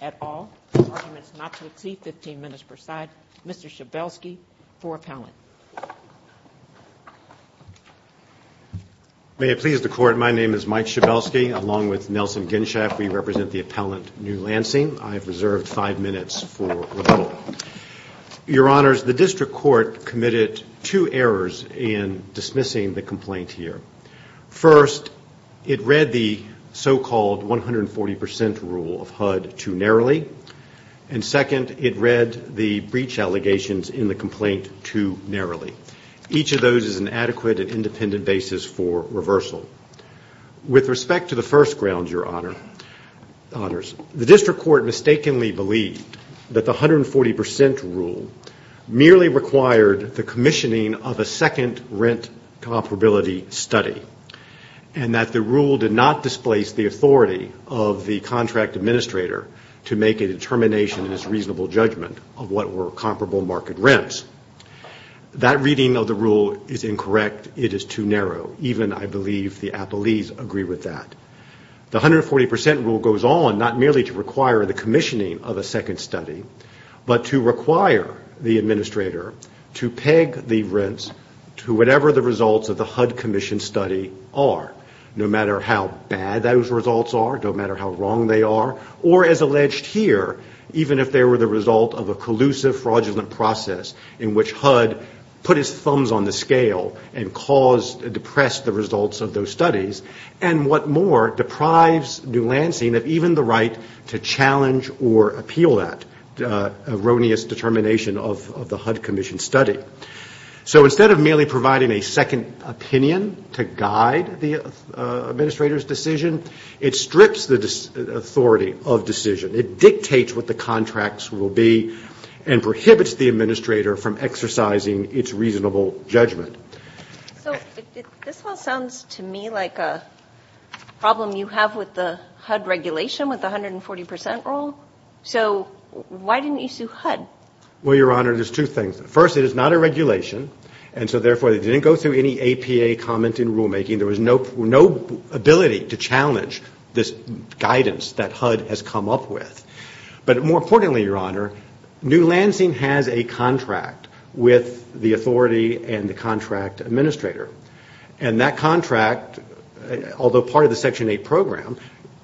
at all. Arguments not to exceed 15 minutes per side. Mr. Schabelsky for appellant. May it please the Court, my name is Mike Schabelsky along with Nelson Genshaft. We represent the District Court committed two errors in dismissing the complaint here. First, it read the so-called 140% rule of HUD too narrowly. And second, it read the breach allegations in the complaint too narrowly. Each of those is an adequate and independent basis for reversal. With respect to the first grounds, your honors, the District Court mistakenly believed that the 140% rule merely required the commissioning of a second rent comparability study. And that the rule did not displace the authority of the contract administrator to make a determination in his reasonable judgment of what were comparable market rents. That reading of the rule is incorrect. It is too narrow. Even I believe the appellees agree with that. The 140% rule goes on not merely to require the commissioning of a second study, but to require the administrator to peg the rents to whatever the results of the HUD commission study are. No matter how bad those results are, no matter how wrong they are, or as alleged here, even if they were the result of a collusive fraudulent process in which HUD put his thumbs on the challenge or appeal that erroneous determination of the HUD commission study. So instead of merely providing a second opinion to guide the administrator's decision, it strips the authority of decision. It dictates what the contracts will be and prohibits the administrator from exercising its reasonable judgment. So this one sounds to me like a problem you have with the HUD regulation with the 140% rule. So why didn't you sue HUD? Well, Your Honor, there's two things. First, it is not a regulation, and so therefore it didn't go through any APA comment in rulemaking. There was no ability to challenge this guidance that HUD has come up with. But more importantly, Your Honor, New Lansing has a contract with the authority and the contract administrator. And that contract, although part of the Section 8 program,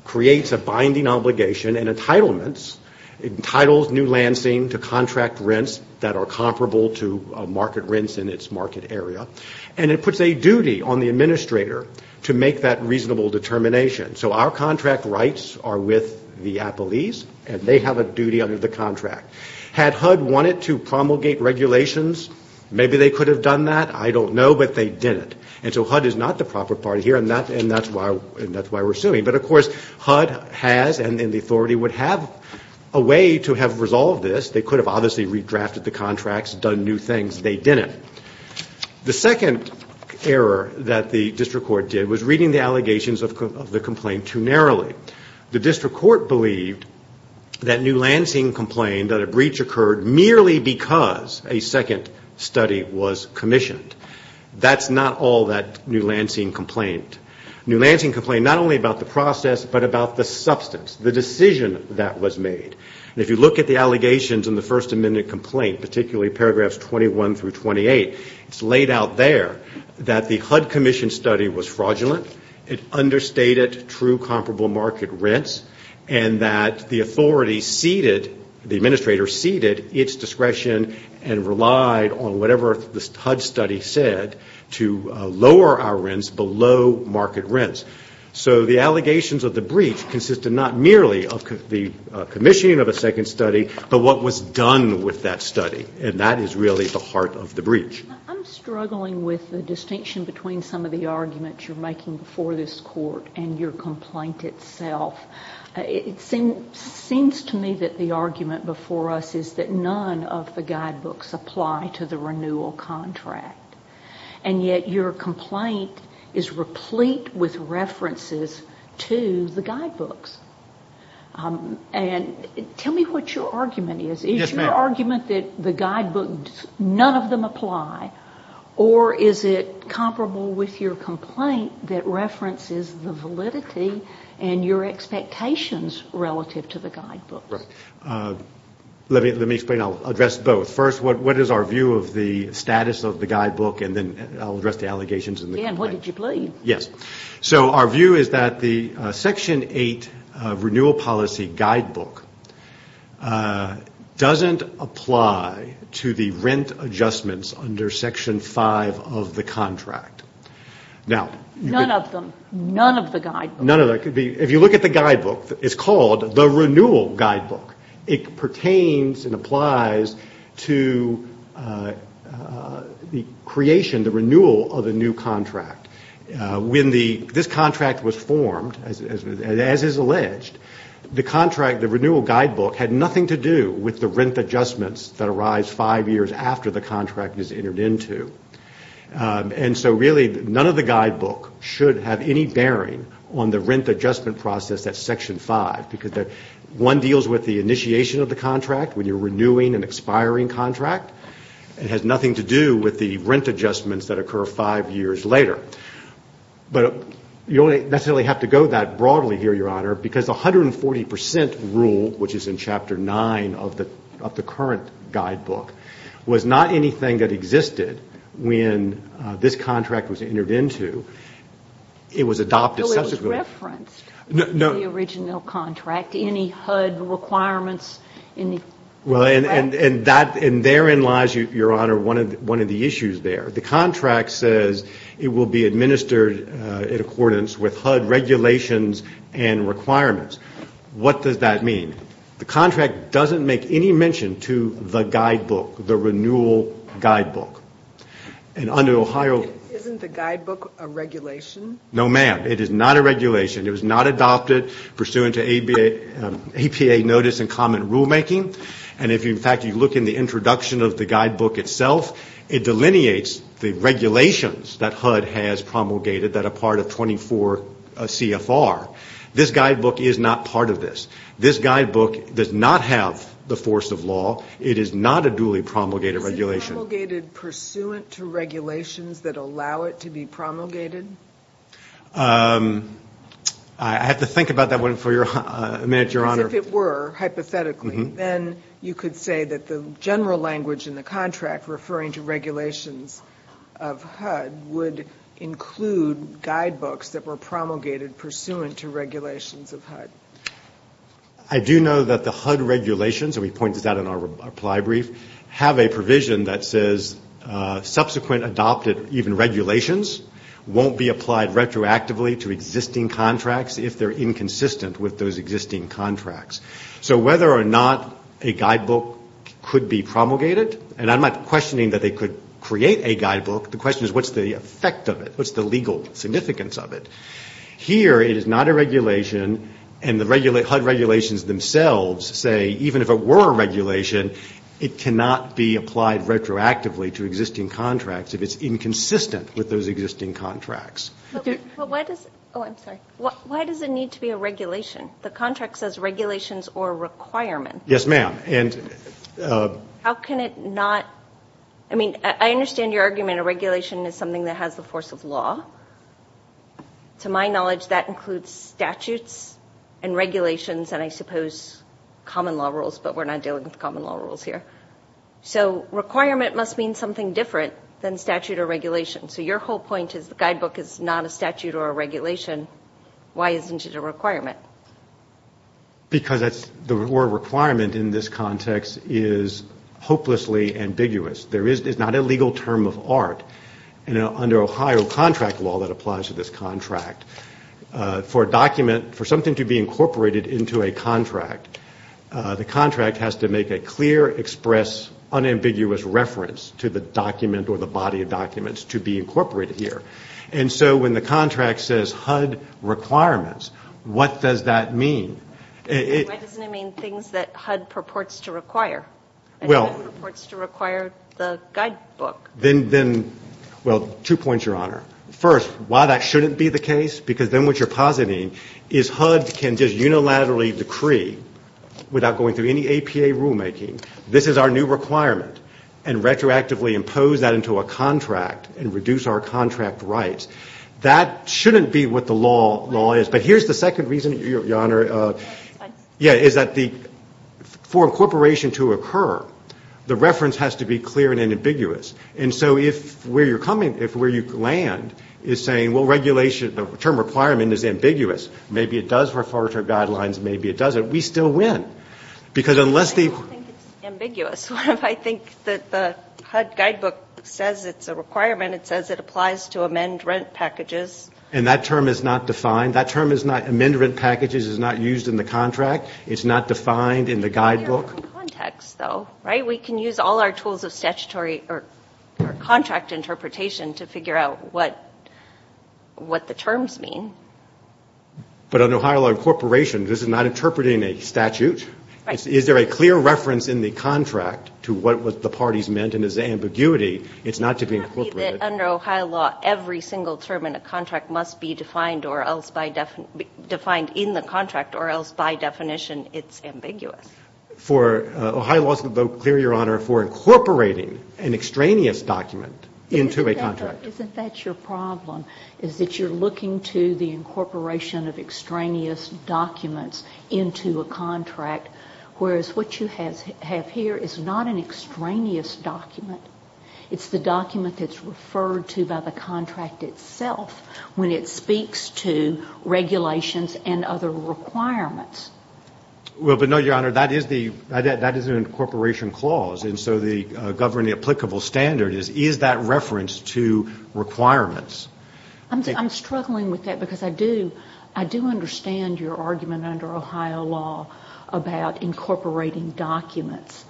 creates a binding obligation and entitlements, entitles New Lansing to contract rents that are comparable to market rents in its market area. And it puts a duty on the administrator to make that reasonable determination. So our contract wanted to promulgate regulations. Maybe they could have done that. I don't know, but they didn't. And so HUD is not the proper party here, and that's why we're suing. But of course, HUD has and the authority would have a way to have resolved this. They could have obviously redrafted the contracts, done new things. They didn't. The second error that the district court did was reading the allegations of the complaint too narrowly. The district court believed that New Lansing complained that a breach occurred merely because a second study was commissioned. That's not all that New Lansing complained. New Lansing complained not only about the process, but about the substance, the decision that was made. And if you look at the allegations in the First Amendment complaint, particularly paragraphs 21 through 28, it's laid out there that the HUD commission study was fraudulent, it understated true comparable market rents, and that the authority ceded, the administrator ceded its discretion and relied on whatever the HUD study said to lower our rents below market rents. So the allegations of the breach consisted not merely of the commissioning of a second study, but what was done with that study. And that is really the heart of the breach. I'm struggling with the distinction between some of the arguments you're making before this court and your complaint itself. It seems to me that the argument before us is that none of the guidebooks apply to the renewal contract, and yet your complaint is replete with references to the guidebooks. And tell me what your argument is. Yes, ma'am. Is that argument that the guidebooks, none of them apply, or is it comparable with your complaint that references the validity and your expectations relative to the guidebooks? Right. Let me explain. I'll address both. First, what is our view of the status of the guidebook, and then I'll address the allegations in the complaint. And what did you believe? Yes. So our view is that the Section 8 renewal policy guidebook doesn't apply to the rent adjustments under Section 5 of the contract. None of them. None of the guidebooks. None of them. If you look at the guidebook, it's called the renewal guidebook. It pertains and applies to the creation, the renewal of a new contract. When this contract was formed, as is alleged, the contract, the renewal guidebook, had nothing to do with the rent adjustments that arise five years after the contract is entered into. And so really, none of the guidebook should have any bearing on the rent adjustment process at Section 5, because one deals with the initiation of the contract when you're renewing an expiring contract. It has nothing to do with the rent adjustments that occur five years later. But you don't necessarily have to go that broadly here, Your Honor, because 140 percent rule, which is in Chapter 9 of the current guidebook, was not anything that existed when this contract was entered into. It was adopted subsequently. Any HUD requirements? Well, and that, and therein lies, Your Honor, one of the issues there. The contract says it will be administered in accordance with HUD regulations and requirements. What does that mean? The contract doesn't make any mention to the guidebook, the renewal guidebook. And under Ohio... Isn't the guidebook a regulation? No, ma'am. It is not a regulation. It was not adopted pursuant to APA notice and common rulemaking. And if, in fact, you look in the introduction of the guidebook itself, it delineates the regulations that HUD has promulgated that are part of 24 CFR. This guidebook is not part of this. This guidebook does not have the force of law. It is not a duly promulgated regulation. Was it promulgated pursuant to regulations that allow it to be promulgated? I have to think about that one for a minute, Your Honor. Because if it were, hypothetically, then you could say that the general language in the contract referring to regulations of HUD would include guidebooks that were promulgated pursuant to regulations of HUD. I do know that the HUD regulations, and we pointed that out in our reply brief, have a provision that says subsequent adopted even regulations won't be applied retroactively to existing contracts if they're inconsistent with those existing contracts. So whether or not a guidebook could be promulgated, and I'm not questioning that they could create a guidebook. The question is what's the effect of it? What's the legal significance of it? Here it is not a regulation, and the HUD regulations themselves say even if it were a regulation, it cannot be applied retroactively to existing contracts if it's inconsistent with those existing contracts. But why does it need to be a regulation? The contract says regulations or requirements. Yes, ma'am. How can it not? I mean, I understand your argument a regulation is something that has the force of law. To my knowledge, that includes statutes and regulations and I suppose common law rules, but we're not dealing with common law rules here. So requirement must mean something different than statute or regulation. So your whole point is the guidebook is not a statute or a regulation. Why isn't it a requirement? Because the word requirement in this context is hopelessly ambiguous. It's not a legal term of art. Under Ohio contract law that applies to this contract, for a document, for something to be incorporated into a contract, the contract has to make a clear, express, unambiguous reference to the document or the body of documents to be incorporated here. And so when the contract says HUD requirements, what does that mean? Why doesn't it mean things that HUD purports to require? HUD purports to require the guidebook. Then, well, two points, Your Honor. First, why that shouldn't be the case? Because then what you're positing is HUD can just unilaterally decree without going through any APA rulemaking, this is our new requirement, and retroactively impose that into a contract and reduce our contract rights. That shouldn't be what the law is. But here's the second reason, Your Honor, is that for incorporation to occur, the reference has to be clear and ambiguous. And so if where you're coming, if where you land is saying, well, regulation, the term requirement is ambiguous, maybe it does refer to our guidelines, maybe it doesn't, we still win. Because unless the... I don't think it's ambiguous. What if I think that the HUD guidebook says it's a requirement, it says it applies to amend rent packages. And that term is not defined. That term is not, amend rent packages is not used in the contract. It's not defined in the guidebook. It's clear from context, though, right? We can use all our tools of statutory or contract interpretation to figure out what the terms mean. But under Ohio law incorporation, this is not interpreting a statute? Right. Is there a clear reference in the contract to what the parties meant and is it ambiguity? It's not to be incorporated. It can't be that under Ohio law every single term in a contract must be defined or else by definition, defined in the contract or else by definition it's ambiguous. For, Ohio law is clear, Your Honor, for incorporating an extraneous document into a contract. Isn't that your problem? Is that you're looking to the incorporation of extraneous documents into a contract, whereas what you have here is not an extraneous document. It's the document that's referred to by the contract itself when it speaks to regulations and other requirements. Well, but no, Your Honor, that is the incorporation clause. And so the governing applicable standard is, is that reference to requirements? I'm struggling with that because I do understand your argument under Ohio law about incorporating documents.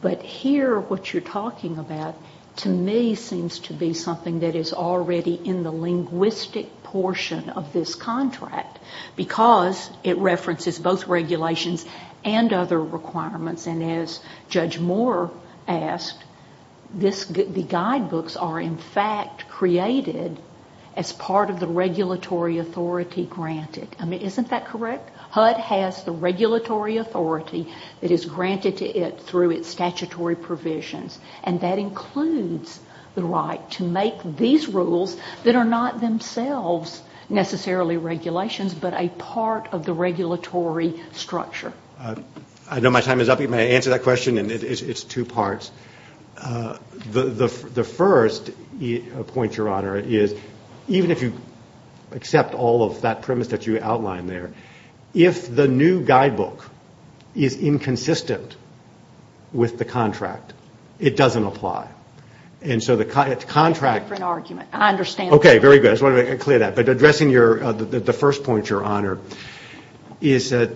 But here what you're talking about to me seems to be something that is already in the linguistic portion of this contract because it references both regulations and other requirements. And as Judge Moore asked, this, the guidebooks are in fact created as part of the regulatory authority granted. I mean, isn't that correct? HUD has the regulatory authority that is granted to it through its statutory provisions. And that includes the right to make these rules that are not themselves necessarily regulations, but a part of the regulatory structure. All right. I know my time is up. You may answer that question, and it's two parts. The first point, Your Honor, is even if you accept all of that premise that you outlined there, if the new guidebook is inconsistent with the contract, it doesn't apply. And so the contract. That's a different argument. I understand that. Okay, very good. I just wanted to clear that. But addressing the first point, Your Honor, is that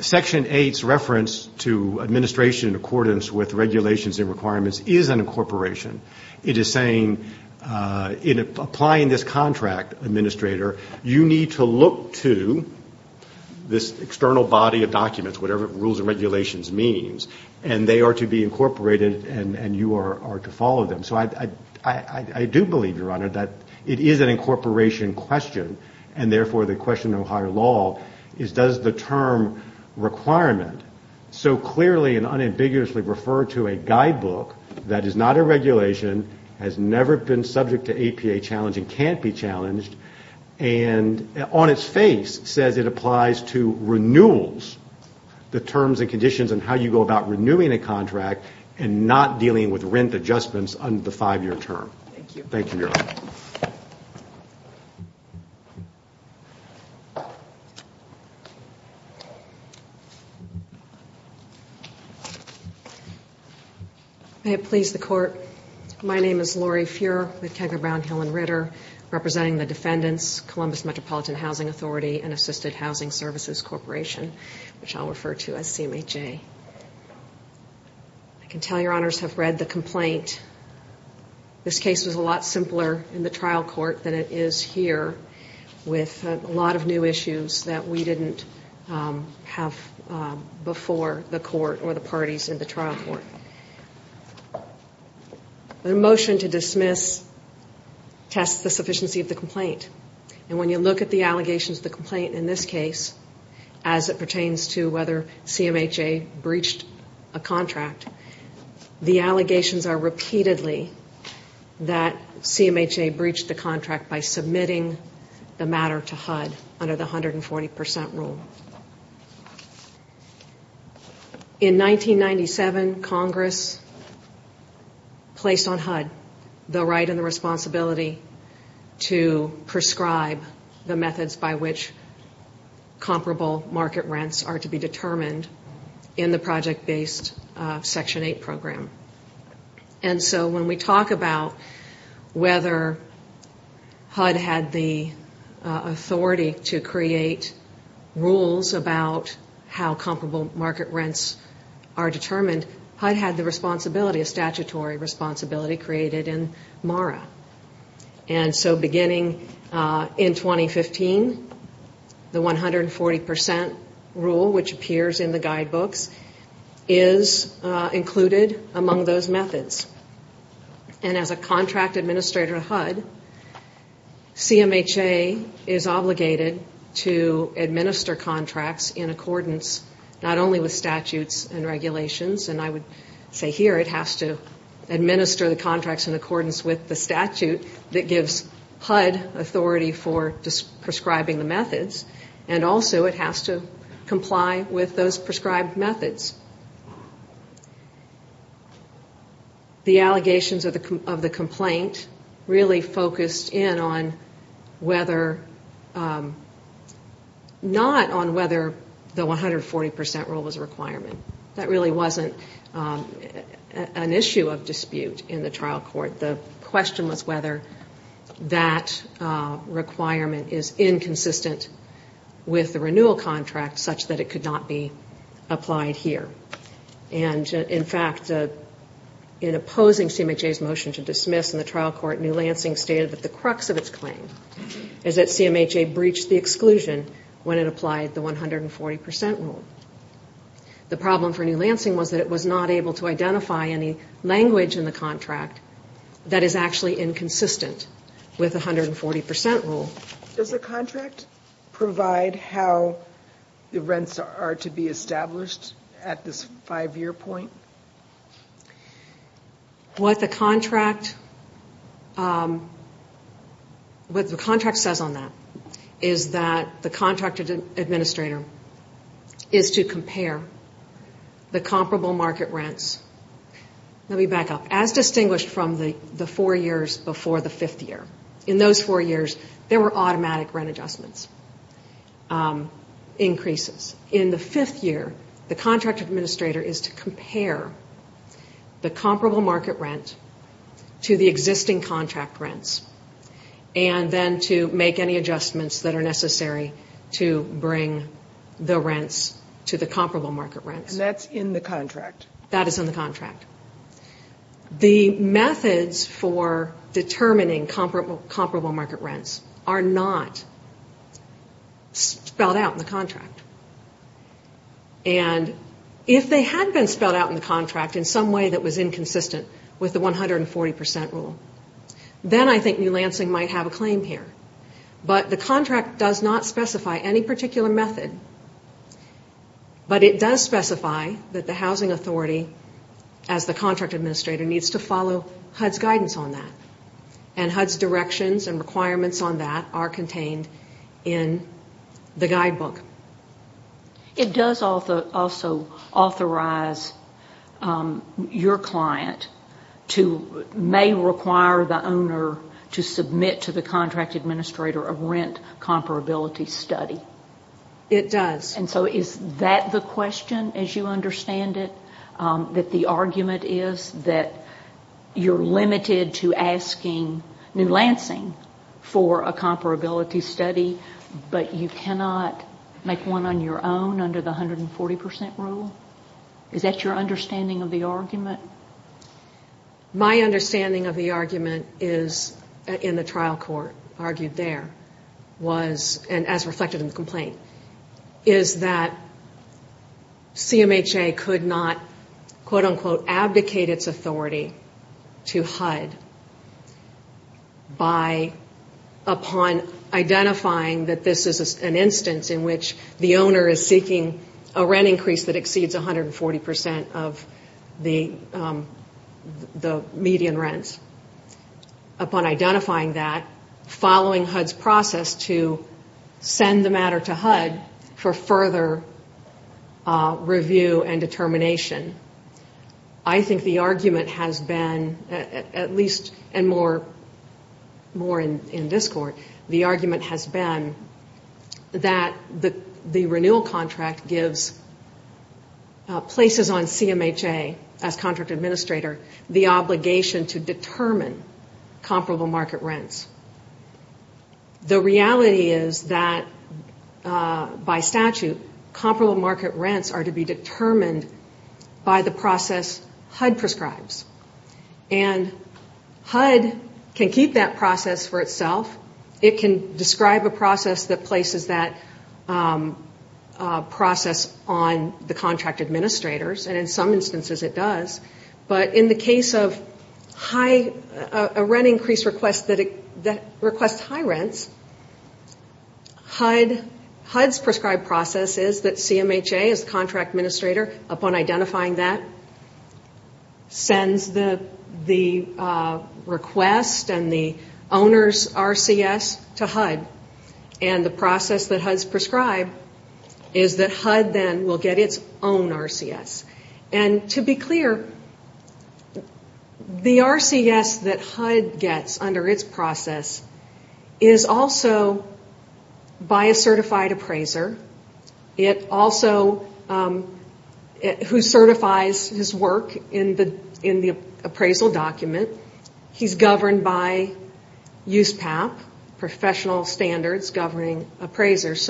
Section 8's reference to administration in accordance with regulations and requirements is an incorporation. It is saying in applying this contract, Administrator, you need to look to this external body of documents, whatever rules and regulations means, and they are to be incorporated and you are to follow them. So I do believe, Your Honor, that it is an incorporation question, and therefore the question of higher law is does the term requirement so clearly and unambiguously refer to a guidebook that is not a regulation, has never been subject to APA challenge, and can't be challenged, and on its face says it applies to renewals, the terms and conditions and how you go about renewing a contract and not dealing with rent adjustments under the five-year term. Thank you. Thank you, Your Honor. May it please the Court, my name is Lori Feuer with Kegel, Brown, Hill & Ritter, representing the defendants, Columbus Metropolitan Housing Authority, and Assisted Housing Services Corporation, which I'll refer to as CMHA. I can tell Your Honors have read the complaint. This case was a lot simpler in the trial court than it is here, with a lot of new issues that we didn't have before the court or the parties in the trial court. The motion to dismiss tests the sufficiency of the complaint, and when you look at the allegations of the complaint in this case, as it pertains to whether CMHA breached a contract, the allegations are repeatedly that CMHA breached the contract by submitting the matter to HUD under the 140% rule. In 1997, Congress placed on HUD the right and the responsibility to prescribe the methods by which comparable market rents are to be determined in the project-based Section 8 program. And so when we talk about whether HUD had the authority to create rules about how comparable market rents are determined, HUD had the responsibility, a statutory responsibility, created in MARA. And so beginning in 2015, the 140% rule, which appears in the guidebooks, is included among those methods. And as a contract administrator at HUD, CMHA is obligated to administer contracts in accordance not only with statutes and regulations, and I would say here it has to administer the contracts in accordance with the statute that gives HUD authority for prescribing the methods, and also it has to comply with those prescribed methods. The allegations of the complaint really focused in on whether, not on whether the 140% rule was a requirement. That really wasn't an issue of dispute in the trial court. The question was whether that requirement is inconsistent with the renewal contract such that it could not be applied here. And, in fact, in opposing CMHA's motion to dismiss in the trial court, New Lansing stated that the crux of its claim is that CMHA breached the exclusion when it applied the 140% rule. The problem for New Lansing was that it was not able to identify any language in the contract that is actually inconsistent with the 140% rule. Does the contract provide how the rents are to be established at this five-year point? What the contract says on that is that the contract administrator is to compare the comparable market rents. Let me back up. As distinguished from the four years before the fifth year, in those four years there were automatic rent adjustments, increases. In the fifth year, the contract administrator is to compare the comparable market rent to the existing contract rents, and then to make any adjustments that are necessary to bring the rents to the comparable market rents. And that's in the contract? That is in the contract. The methods for determining comparable market rents are not spelled out in the contract. And if they had been spelled out in the contract in some way that was inconsistent with the 140% rule, then I think New Lansing might have a claim here. But the contract does not specify any particular method. But it does specify that the housing authority, as the contract administrator, needs to follow HUD's guidance on that. And HUD's directions and requirements on that are contained in the guidebook. It does also authorize your client to may require the owner to submit to the contract administrator a rent comparability study. It does. And so is that the question, as you understand it, that the argument is that you're limited to asking New Lansing for a comparability study, but you cannot make one on your own under the 140% rule? Is that your understanding of the argument? My understanding of the argument is, in the trial court argued there, was, and as reflected in the complaint, is that CMHA could not, quote, unquote, abdicate its authority to HUD by, upon identifying that this is an instance in which the owner is seeking a rent increase that exceeds 140% of the median rents. following HUD's process to send the matter to HUD for further review and determination. I think the argument has been, at least, and more in this court, the argument has been that the renewal contract gives places on CMHA, as contract administrator, the obligation to determine comparable market rents. The reality is that, by statute, comparable market rents are to be determined by the process HUD prescribes. And HUD can keep that process for itself. It can describe a process that places that process on the contract administrators, and in some instances it does. But in the case of a rent increase request that requests high rents, HUD's prescribed process is that CMHA, as contract administrator, upon identifying that, sends the request and the owner's RCS to HUD. And the process that HUD's prescribed is that HUD then will get its own RCS. And to be clear, the RCS that HUD gets under its process is also by a certified appraiser, who certifies his work in the appraisal document. He's governed by USPAP, professional standards governing appraisers.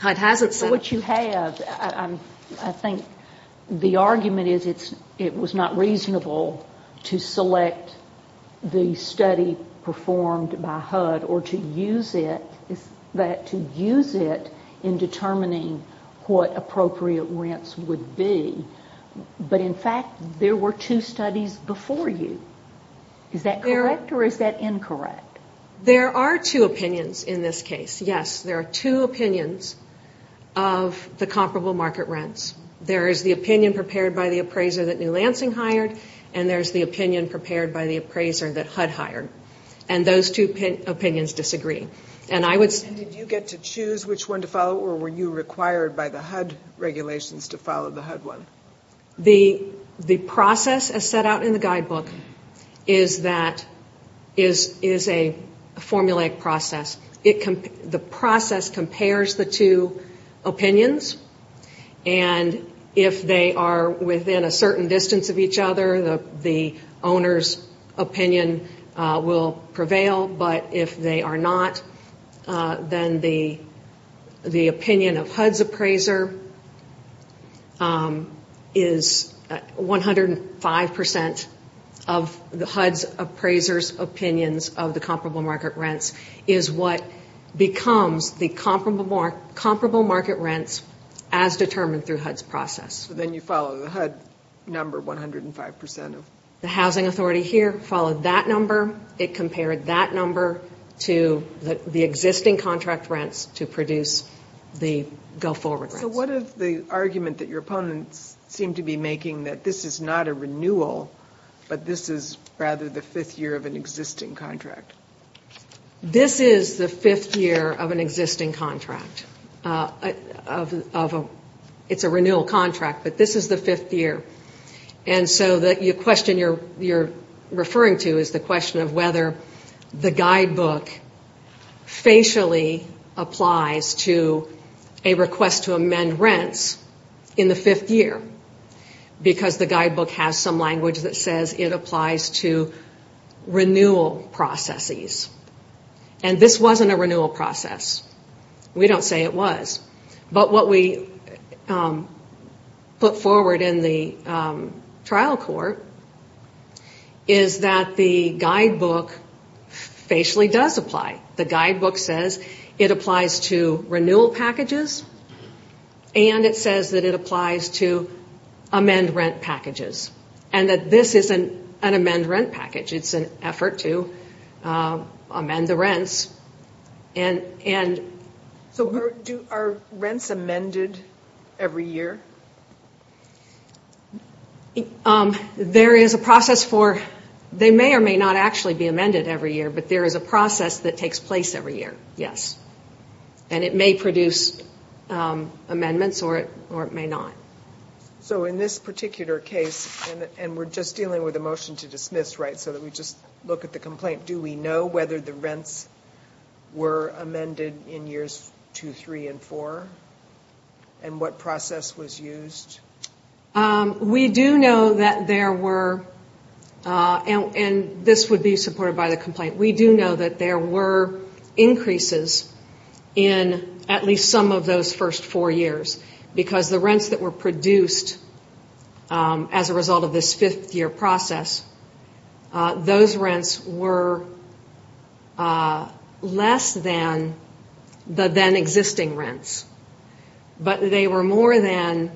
What you have, I think the argument is it was not reasonable to select the study performed by HUD, or to use it in determining what appropriate rents would be. But, in fact, there were two studies before you. Is that correct, or is that incorrect? There are two opinions in this case. Yes, there are two opinions of the comparable market rents. There is the opinion prepared by the appraiser that New Lansing hired, and there's the opinion prepared by the appraiser that HUD hired. And those two opinions disagree. And I would say... And did you get to choose which one to follow, or were you required by the HUD regulations to follow the HUD one? The process, as set out in the guidebook, is a formulaic process. The process compares the two opinions. And if they are within a certain distance of each other, the owner's opinion will prevail. But if they are not, then the opinion of HUD's appraiser is 105% of the HUD's appraiser's opinions of the comparable market rents, is what becomes the comparable market rents as determined through HUD's process. Then you follow the HUD number 105% of... The housing authority here followed that number. It compared that number to the existing contract rents to produce the go-forward rents. So what is the argument that your opponents seem to be making that this is not a renewal, but this is rather the fifth year of an existing contract? This is the fifth year of an existing contract. It's a renewal contract, but this is the fifth year. And so the question you're referring to is the question of whether the guidebook facially applies to a request to amend rents in the fifth year, because the guidebook has some language that says it applies to renewal processes. And this wasn't a renewal process. We don't say it was. But what we put forward in the trial court is that the guidebook facially does apply. The guidebook says it applies to renewal packages, and it says that it applies to amend rent packages, and that this isn't an amend rent package. It's an effort to amend the rents. So are rents amended every year? There is a process for it. They may or may not actually be amended every year, but there is a process that takes place every year, yes. And it may produce amendments or it may not. So in this particular case, and we're just dealing with a motion to dismiss, right, so that we just look at the complaint, do we know whether the rents were amended in years two, three, and four, and what process was used? We do know that there were, and this would be supported by the complaint, we do know that there were increases in at least some of those first four years, because the rents that were produced as a result of this fifth-year process, those rents were less than the then-existing rents, but they were more than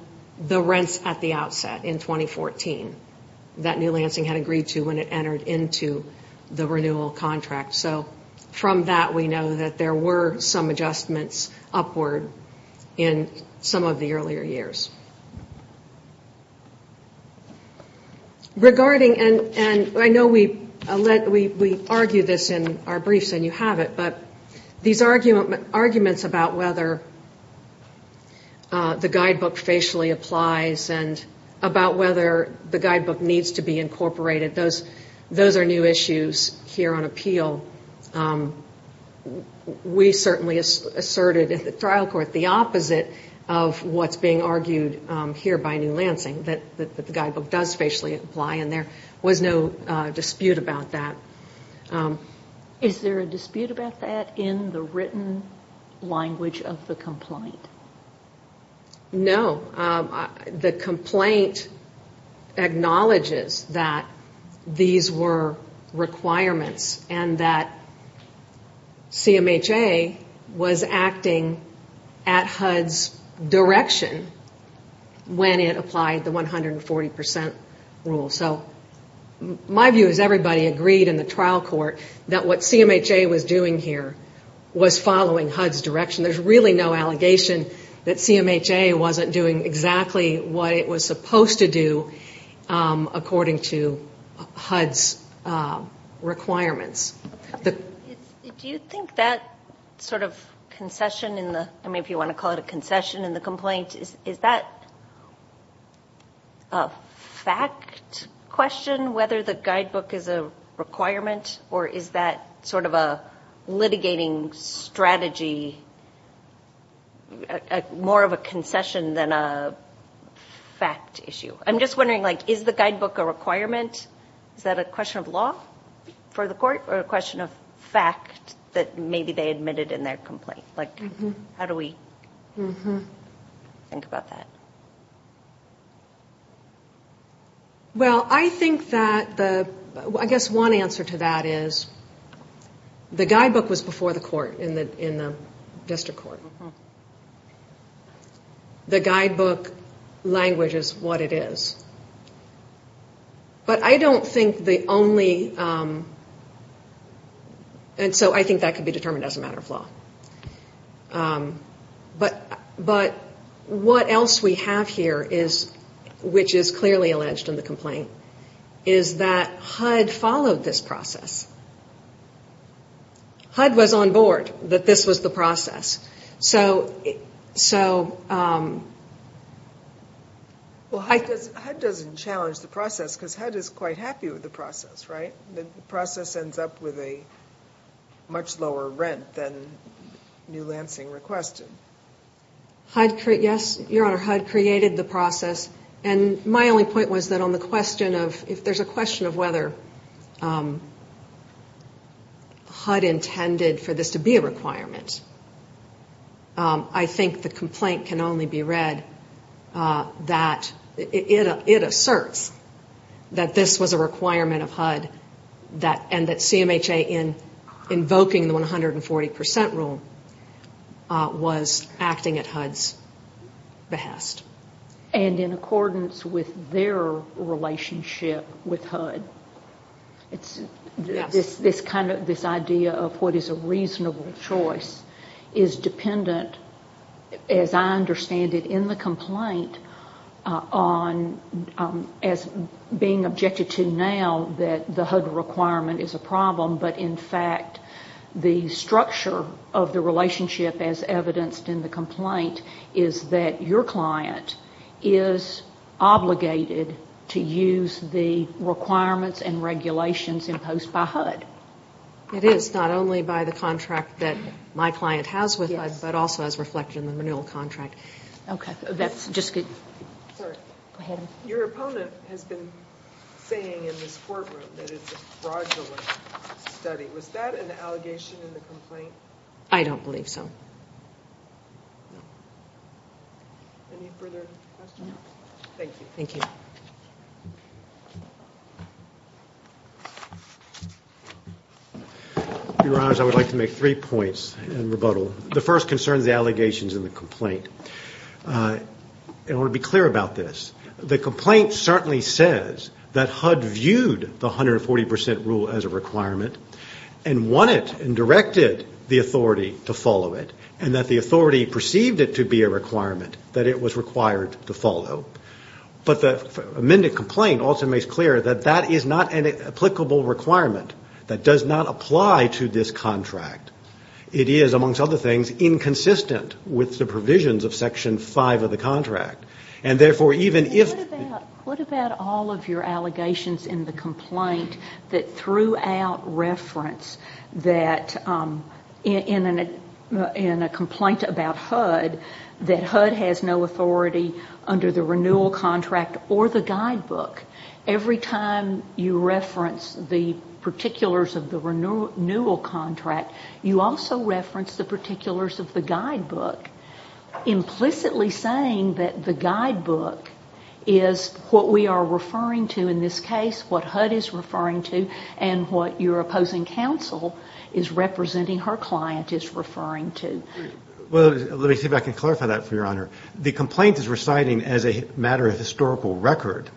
the rents at the outset in 2014 that New Lansing had agreed to when it entered into the renewal contract. So from that we know that there were some adjustments upward in some of the earlier years. Regarding, and I know we argue this in our briefs and you have it, but these arguments about whether the guidebook facially applies and about whether the guidebook needs to be incorporated, those are new issues here on appeal. We certainly asserted at the trial court the opposite of what's being argued here by New Lansing, that the guidebook does facially apply, and there was no dispute about that. Is there a dispute about that in the written language of the complaint? No, the complaint acknowledges that these were requirements and that CMHA was acting at HUD's direction when it applied the 140% rule. So my view is everybody agreed in the trial court that what CMHA was doing here was following HUD's direction. There's really no allegation that CMHA wasn't doing exactly what it was supposed to do according to HUD's requirements. Do you think that sort of concession in the, I mean if you want to call it a concession in the complaint, is that a fact question, whether the guidebook is a requirement, or is that sort of a litigating strategy, more of a concession than a fact issue? I'm just wondering, is the guidebook a requirement? Is that a question of law for the court or a question of fact that maybe they admitted in their complaint? How do we think about that? Well, I think that the, I guess one answer to that is the guidebook was before the court in the district court. The guidebook language is what it is. But I don't think the only, and so I think that could be determined as a matter of law. But what else we have here is, which is clearly alleged in the complaint, is that HUD followed this process. HUD was on board that this was the process. So... Well, HUD doesn't challenge the process because HUD is quite happy with the process, right? The process ends up with a much lower rent than New Lansing requested. HUD, yes, Your Honor, HUD created the process. And my only point was that on the question of, if there's a question of whether HUD intended for this to be a requirement, I think the complaint can only be read that it asserts that this was a requirement of HUD and that CMHA in invoking the 140 percent rule was acting at HUD's behest. And in accordance with their relationship with HUD. Yes. This kind of, this idea of what is a reasonable choice is dependent, as I understand it, in the complaint on, as being objected to now, that the HUD requirement is a problem, but in fact the structure of the relationship, as evidenced in the complaint, is that your client is obligated to use the requirements and regulations imposed by HUD. It is, not only by the contract that my client has with HUD, but also as reflected in the renewal contract. Okay, that's just good. Sorry. Go ahead. Your opponent has been saying in this courtroom that it's a fraudulent study. Was that an allegation in the complaint? I don't believe so. No. Any further questions? No. Thank you. Thank you. Your Honors, I would like to make three points in rebuttal. The first concerns the allegations in the complaint. I want to be clear about this. The complaint certainly says that HUD viewed the 140% rule as a requirement and wanted and directed the authority to follow it, and that the authority perceived it to be a requirement that it was required to follow. But the amended complaint also makes clear that that is not an applicable requirement that does not apply to this contract. It is, amongst other things, inconsistent with the provisions of Section 5 of the contract. And, therefore, even if the What about all of your allegations in the complaint that threw out reference that in a complaint about HUD, that HUD has no authority under the renewal contract or the guidebook. Every time you reference the particulars of the renewal contract, you also reference the particulars of the guidebook, implicitly saying that the guidebook is what we are referring to in this case, what HUD is referring to, and what your opposing counsel is representing her client is referring to. Well, let me see if I can clarify that for your Honor. The complaint is reciting as a matter of historical record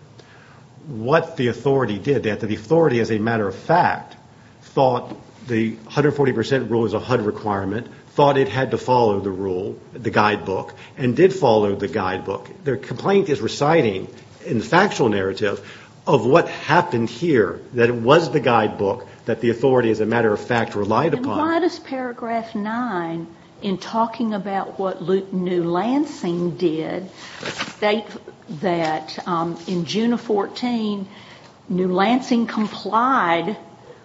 what the authority did, that the authority, as a matter of fact, thought the 140% rule was a HUD requirement, thought it had to follow the rule, the guidebook, and did follow the guidebook. The complaint is reciting in the factual narrative of what happened here, that it was the guidebook that the authority, as a matter of fact, relied upon. Why does paragraph 9, in talking about what New Lansing did, state that in June of 2014, New Lansing complied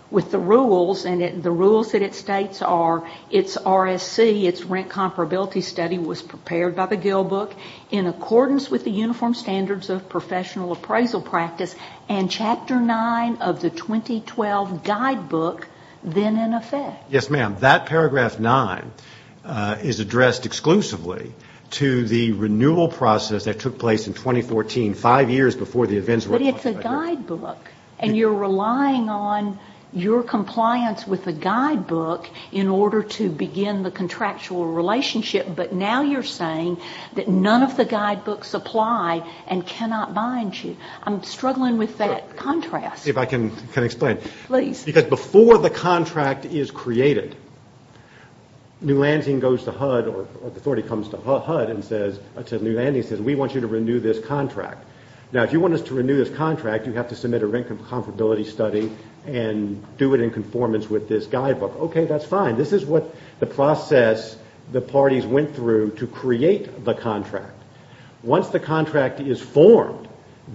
with the rules, and the rules that it states are its RSC, its rent comparability study, was prepared by the Gill Book in accordance with the uniform standards of professional appraisal practice, and chapter 9 of the 2012 guidebook, then in effect? Yes, ma'am. That paragraph 9 is addressed exclusively to the renewal process that took place in 2014, five years before the events we're talking about here. But it's a guidebook, and you're relying on your compliance with the guidebook in order to begin the contractual relationship, but now you're saying that none of the guidebooks apply and cannot bind you. I'm struggling with that contrast. If I can explain. Please. Because before the contract is created, New Lansing goes to HUD, or the authority comes to HUD and says, New Lansing says, we want you to renew this contract. Now, if you want us to renew this contract, you have to submit a rent comparability study and do it in conformance with this guidebook. Okay, that's fine. This is what the process the parties went through to create the contract. Once the contract is formed,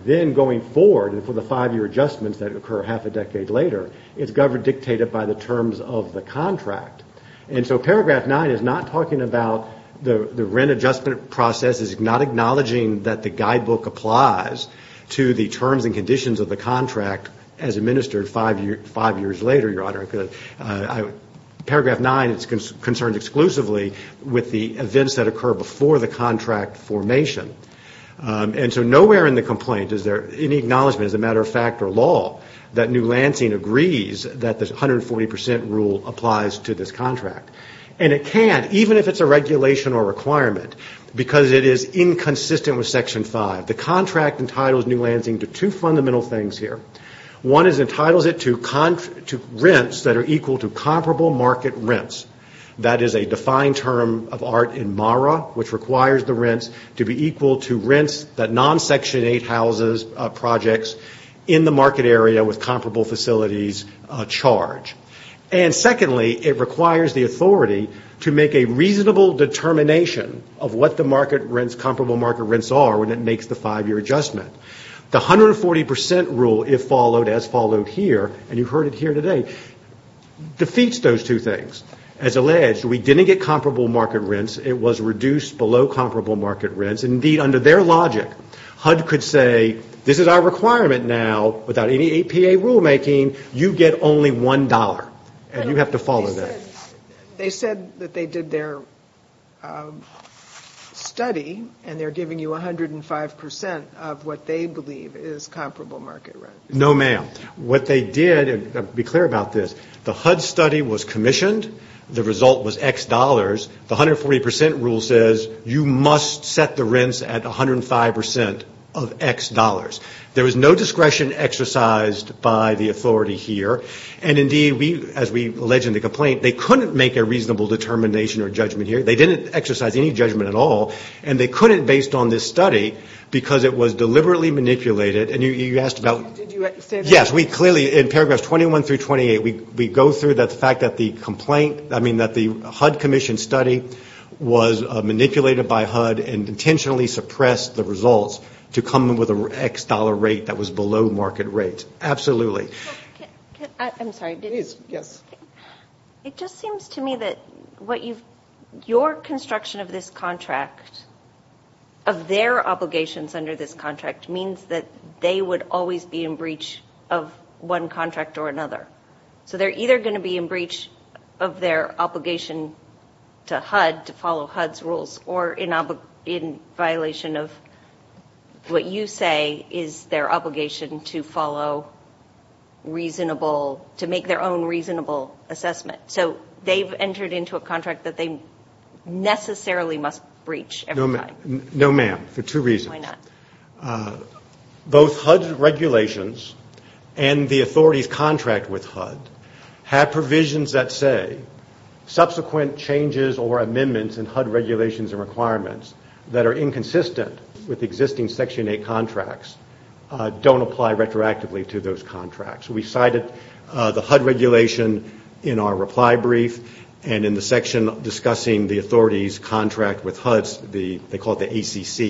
then going forward for the five-year adjustments that occur half a decade later, it's governed, dictated by the terms of the contract. And so paragraph 9 is not talking about the rent adjustment process, it's not acknowledging that the guidebook applies to the terms and conditions of the contract as administered five years later, Your Honor. Paragraph 9 is concerned exclusively with the events that occur before the contract formation. And so nowhere in the complaint is there any acknowledgment, as a matter of fact or law, that New Lansing agrees that the 140 percent rule applies to this contract. And it can't, even if it's a regulation or requirement, because it is inconsistent with Section 5. The contract entitles New Lansing to two fundamental things here. One is it entitles it to rents that are equal to comparable market rents. That is a defined term of art in MARA, which requires the rents to be equal to rents that non-Section 8 houses, projects in the market area with comparable facilities charge. And secondly, it requires the authority to make a reasonable determination of what the comparable market rents are when it makes the five-year adjustment. The 140 percent rule, if followed, as followed here, and you heard it here today, defeats those two things. As alleged, we didn't get comparable market rents. It was reduced below comparable market rents. Indeed, under their logic, HUD could say this is our requirement now. Without any APA rulemaking, you get only $1, and you have to follow that. They said that they did their study, and they're giving you 105 percent of what they believe is comparable market rent. No, ma'am. What they did, and I'll be clear about this, the HUD study was commissioned. The result was X dollars. The 140 percent rule says you must set the rents at 105 percent of X dollars. There was no discretion exercised by the authority here. And indeed, as we allege in the complaint, they couldn't make a reasonable determination or judgment here. They didn't exercise any judgment at all, and they couldn't based on this study because it was deliberately manipulated. And you asked about yes, we clearly in paragraphs 21 through 28, we go through the fact that the HUD commission study was manipulated by HUD and intentionally suppressed the results to come with an X dollar rate that was below market rate. Absolutely. I'm sorry. Please, yes. It just seems to me that your construction of this contract, of their obligations under this contract, means that they would always be in breach of one contract or another. So they're either going to be in breach of their obligation to HUD to follow HUD's rules or in violation of what you say is their obligation to follow reasonable, to make their own reasonable assessment. So they've entered into a contract that they necessarily must breach every time. No, ma'am, for two reasons. Why not? Both HUD's regulations and the authority's contract with HUD have provisions that say subsequent changes or amendments in HUD regulations and requirements that are inconsistent with existing Section 8 contracts don't apply retroactively to those contracts. We cited the HUD regulation in our reply brief and in the section discussing the authority's contract with HUD. They call it the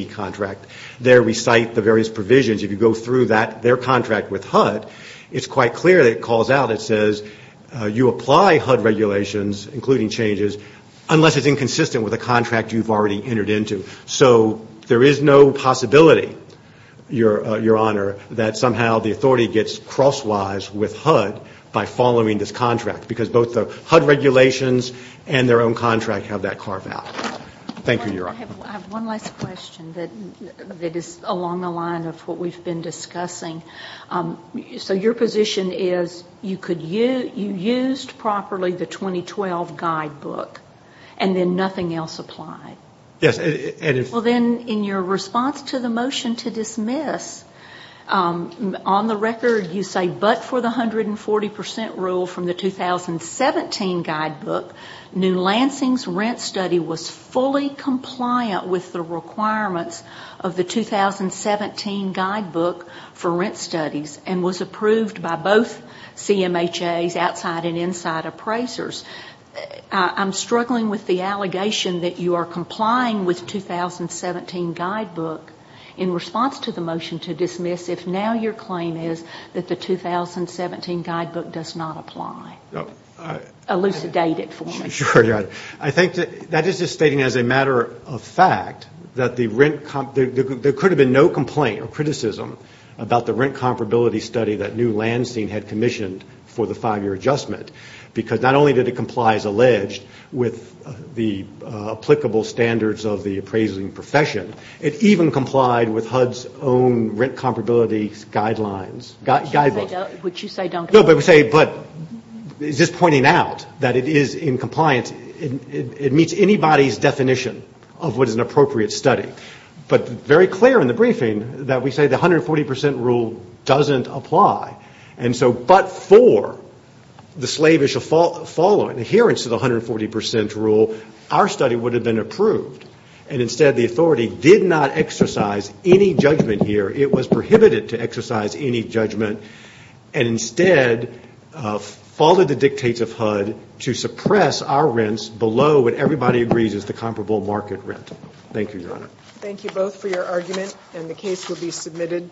ACC contract. There we cite the various provisions. If you go through their contract with HUD, it's quite clear that it calls out, it says you apply HUD regulations, including changes, unless it's inconsistent with a contract you've already entered into. So there is no possibility, Your Honor, that somehow the authority gets crosswise with HUD by following this contract because both the HUD regulations and their own contract have that carved out. Thank you, Your Honor. I have one last question that is along the line of what we've been discussing. So your position is you used properly the 2012 guidebook and then nothing else applied? Yes. Well, then, in your response to the motion to dismiss, on the record you say, but for the 140 percent rule from the 2017 guidebook, New Lansing's rent study was fully compliant with the requirements of the 2017 guidebook for rent studies and was approved by both CMHA's outside and inside appraisers. I'm struggling with the allegation that you are complying with the 2017 guidebook in response to the motion to dismiss if now your claim is that the 2017 guidebook does not apply. Elucidate it for me. Sure, Your Honor. I think that is just stating as a matter of fact that there could have been no complaint or criticism about the rent comparability study that New Lansing had commissioned for the five-year adjustment because not only did it comply as alleged with the applicable standards of the appraising profession, it even complied with HUD's own rent comparability guidelines. Which you say don't comply. No, but we say, but it's just pointing out that it is in compliance. It meets anybody's definition of what is an appropriate study. But very clear in the briefing that we say the 140 percent rule doesn't apply. And so but for the slavish following, adherence to the 140 percent rule, our study would have been approved. And instead the authority did not exercise any judgment here. It was prohibited to exercise any judgment. And instead followed the dictates of HUD to suppress our rents below what everybody agrees is the comparable market rent. Thank you, Your Honor. Thank you both for your argument. And the case will be submitted.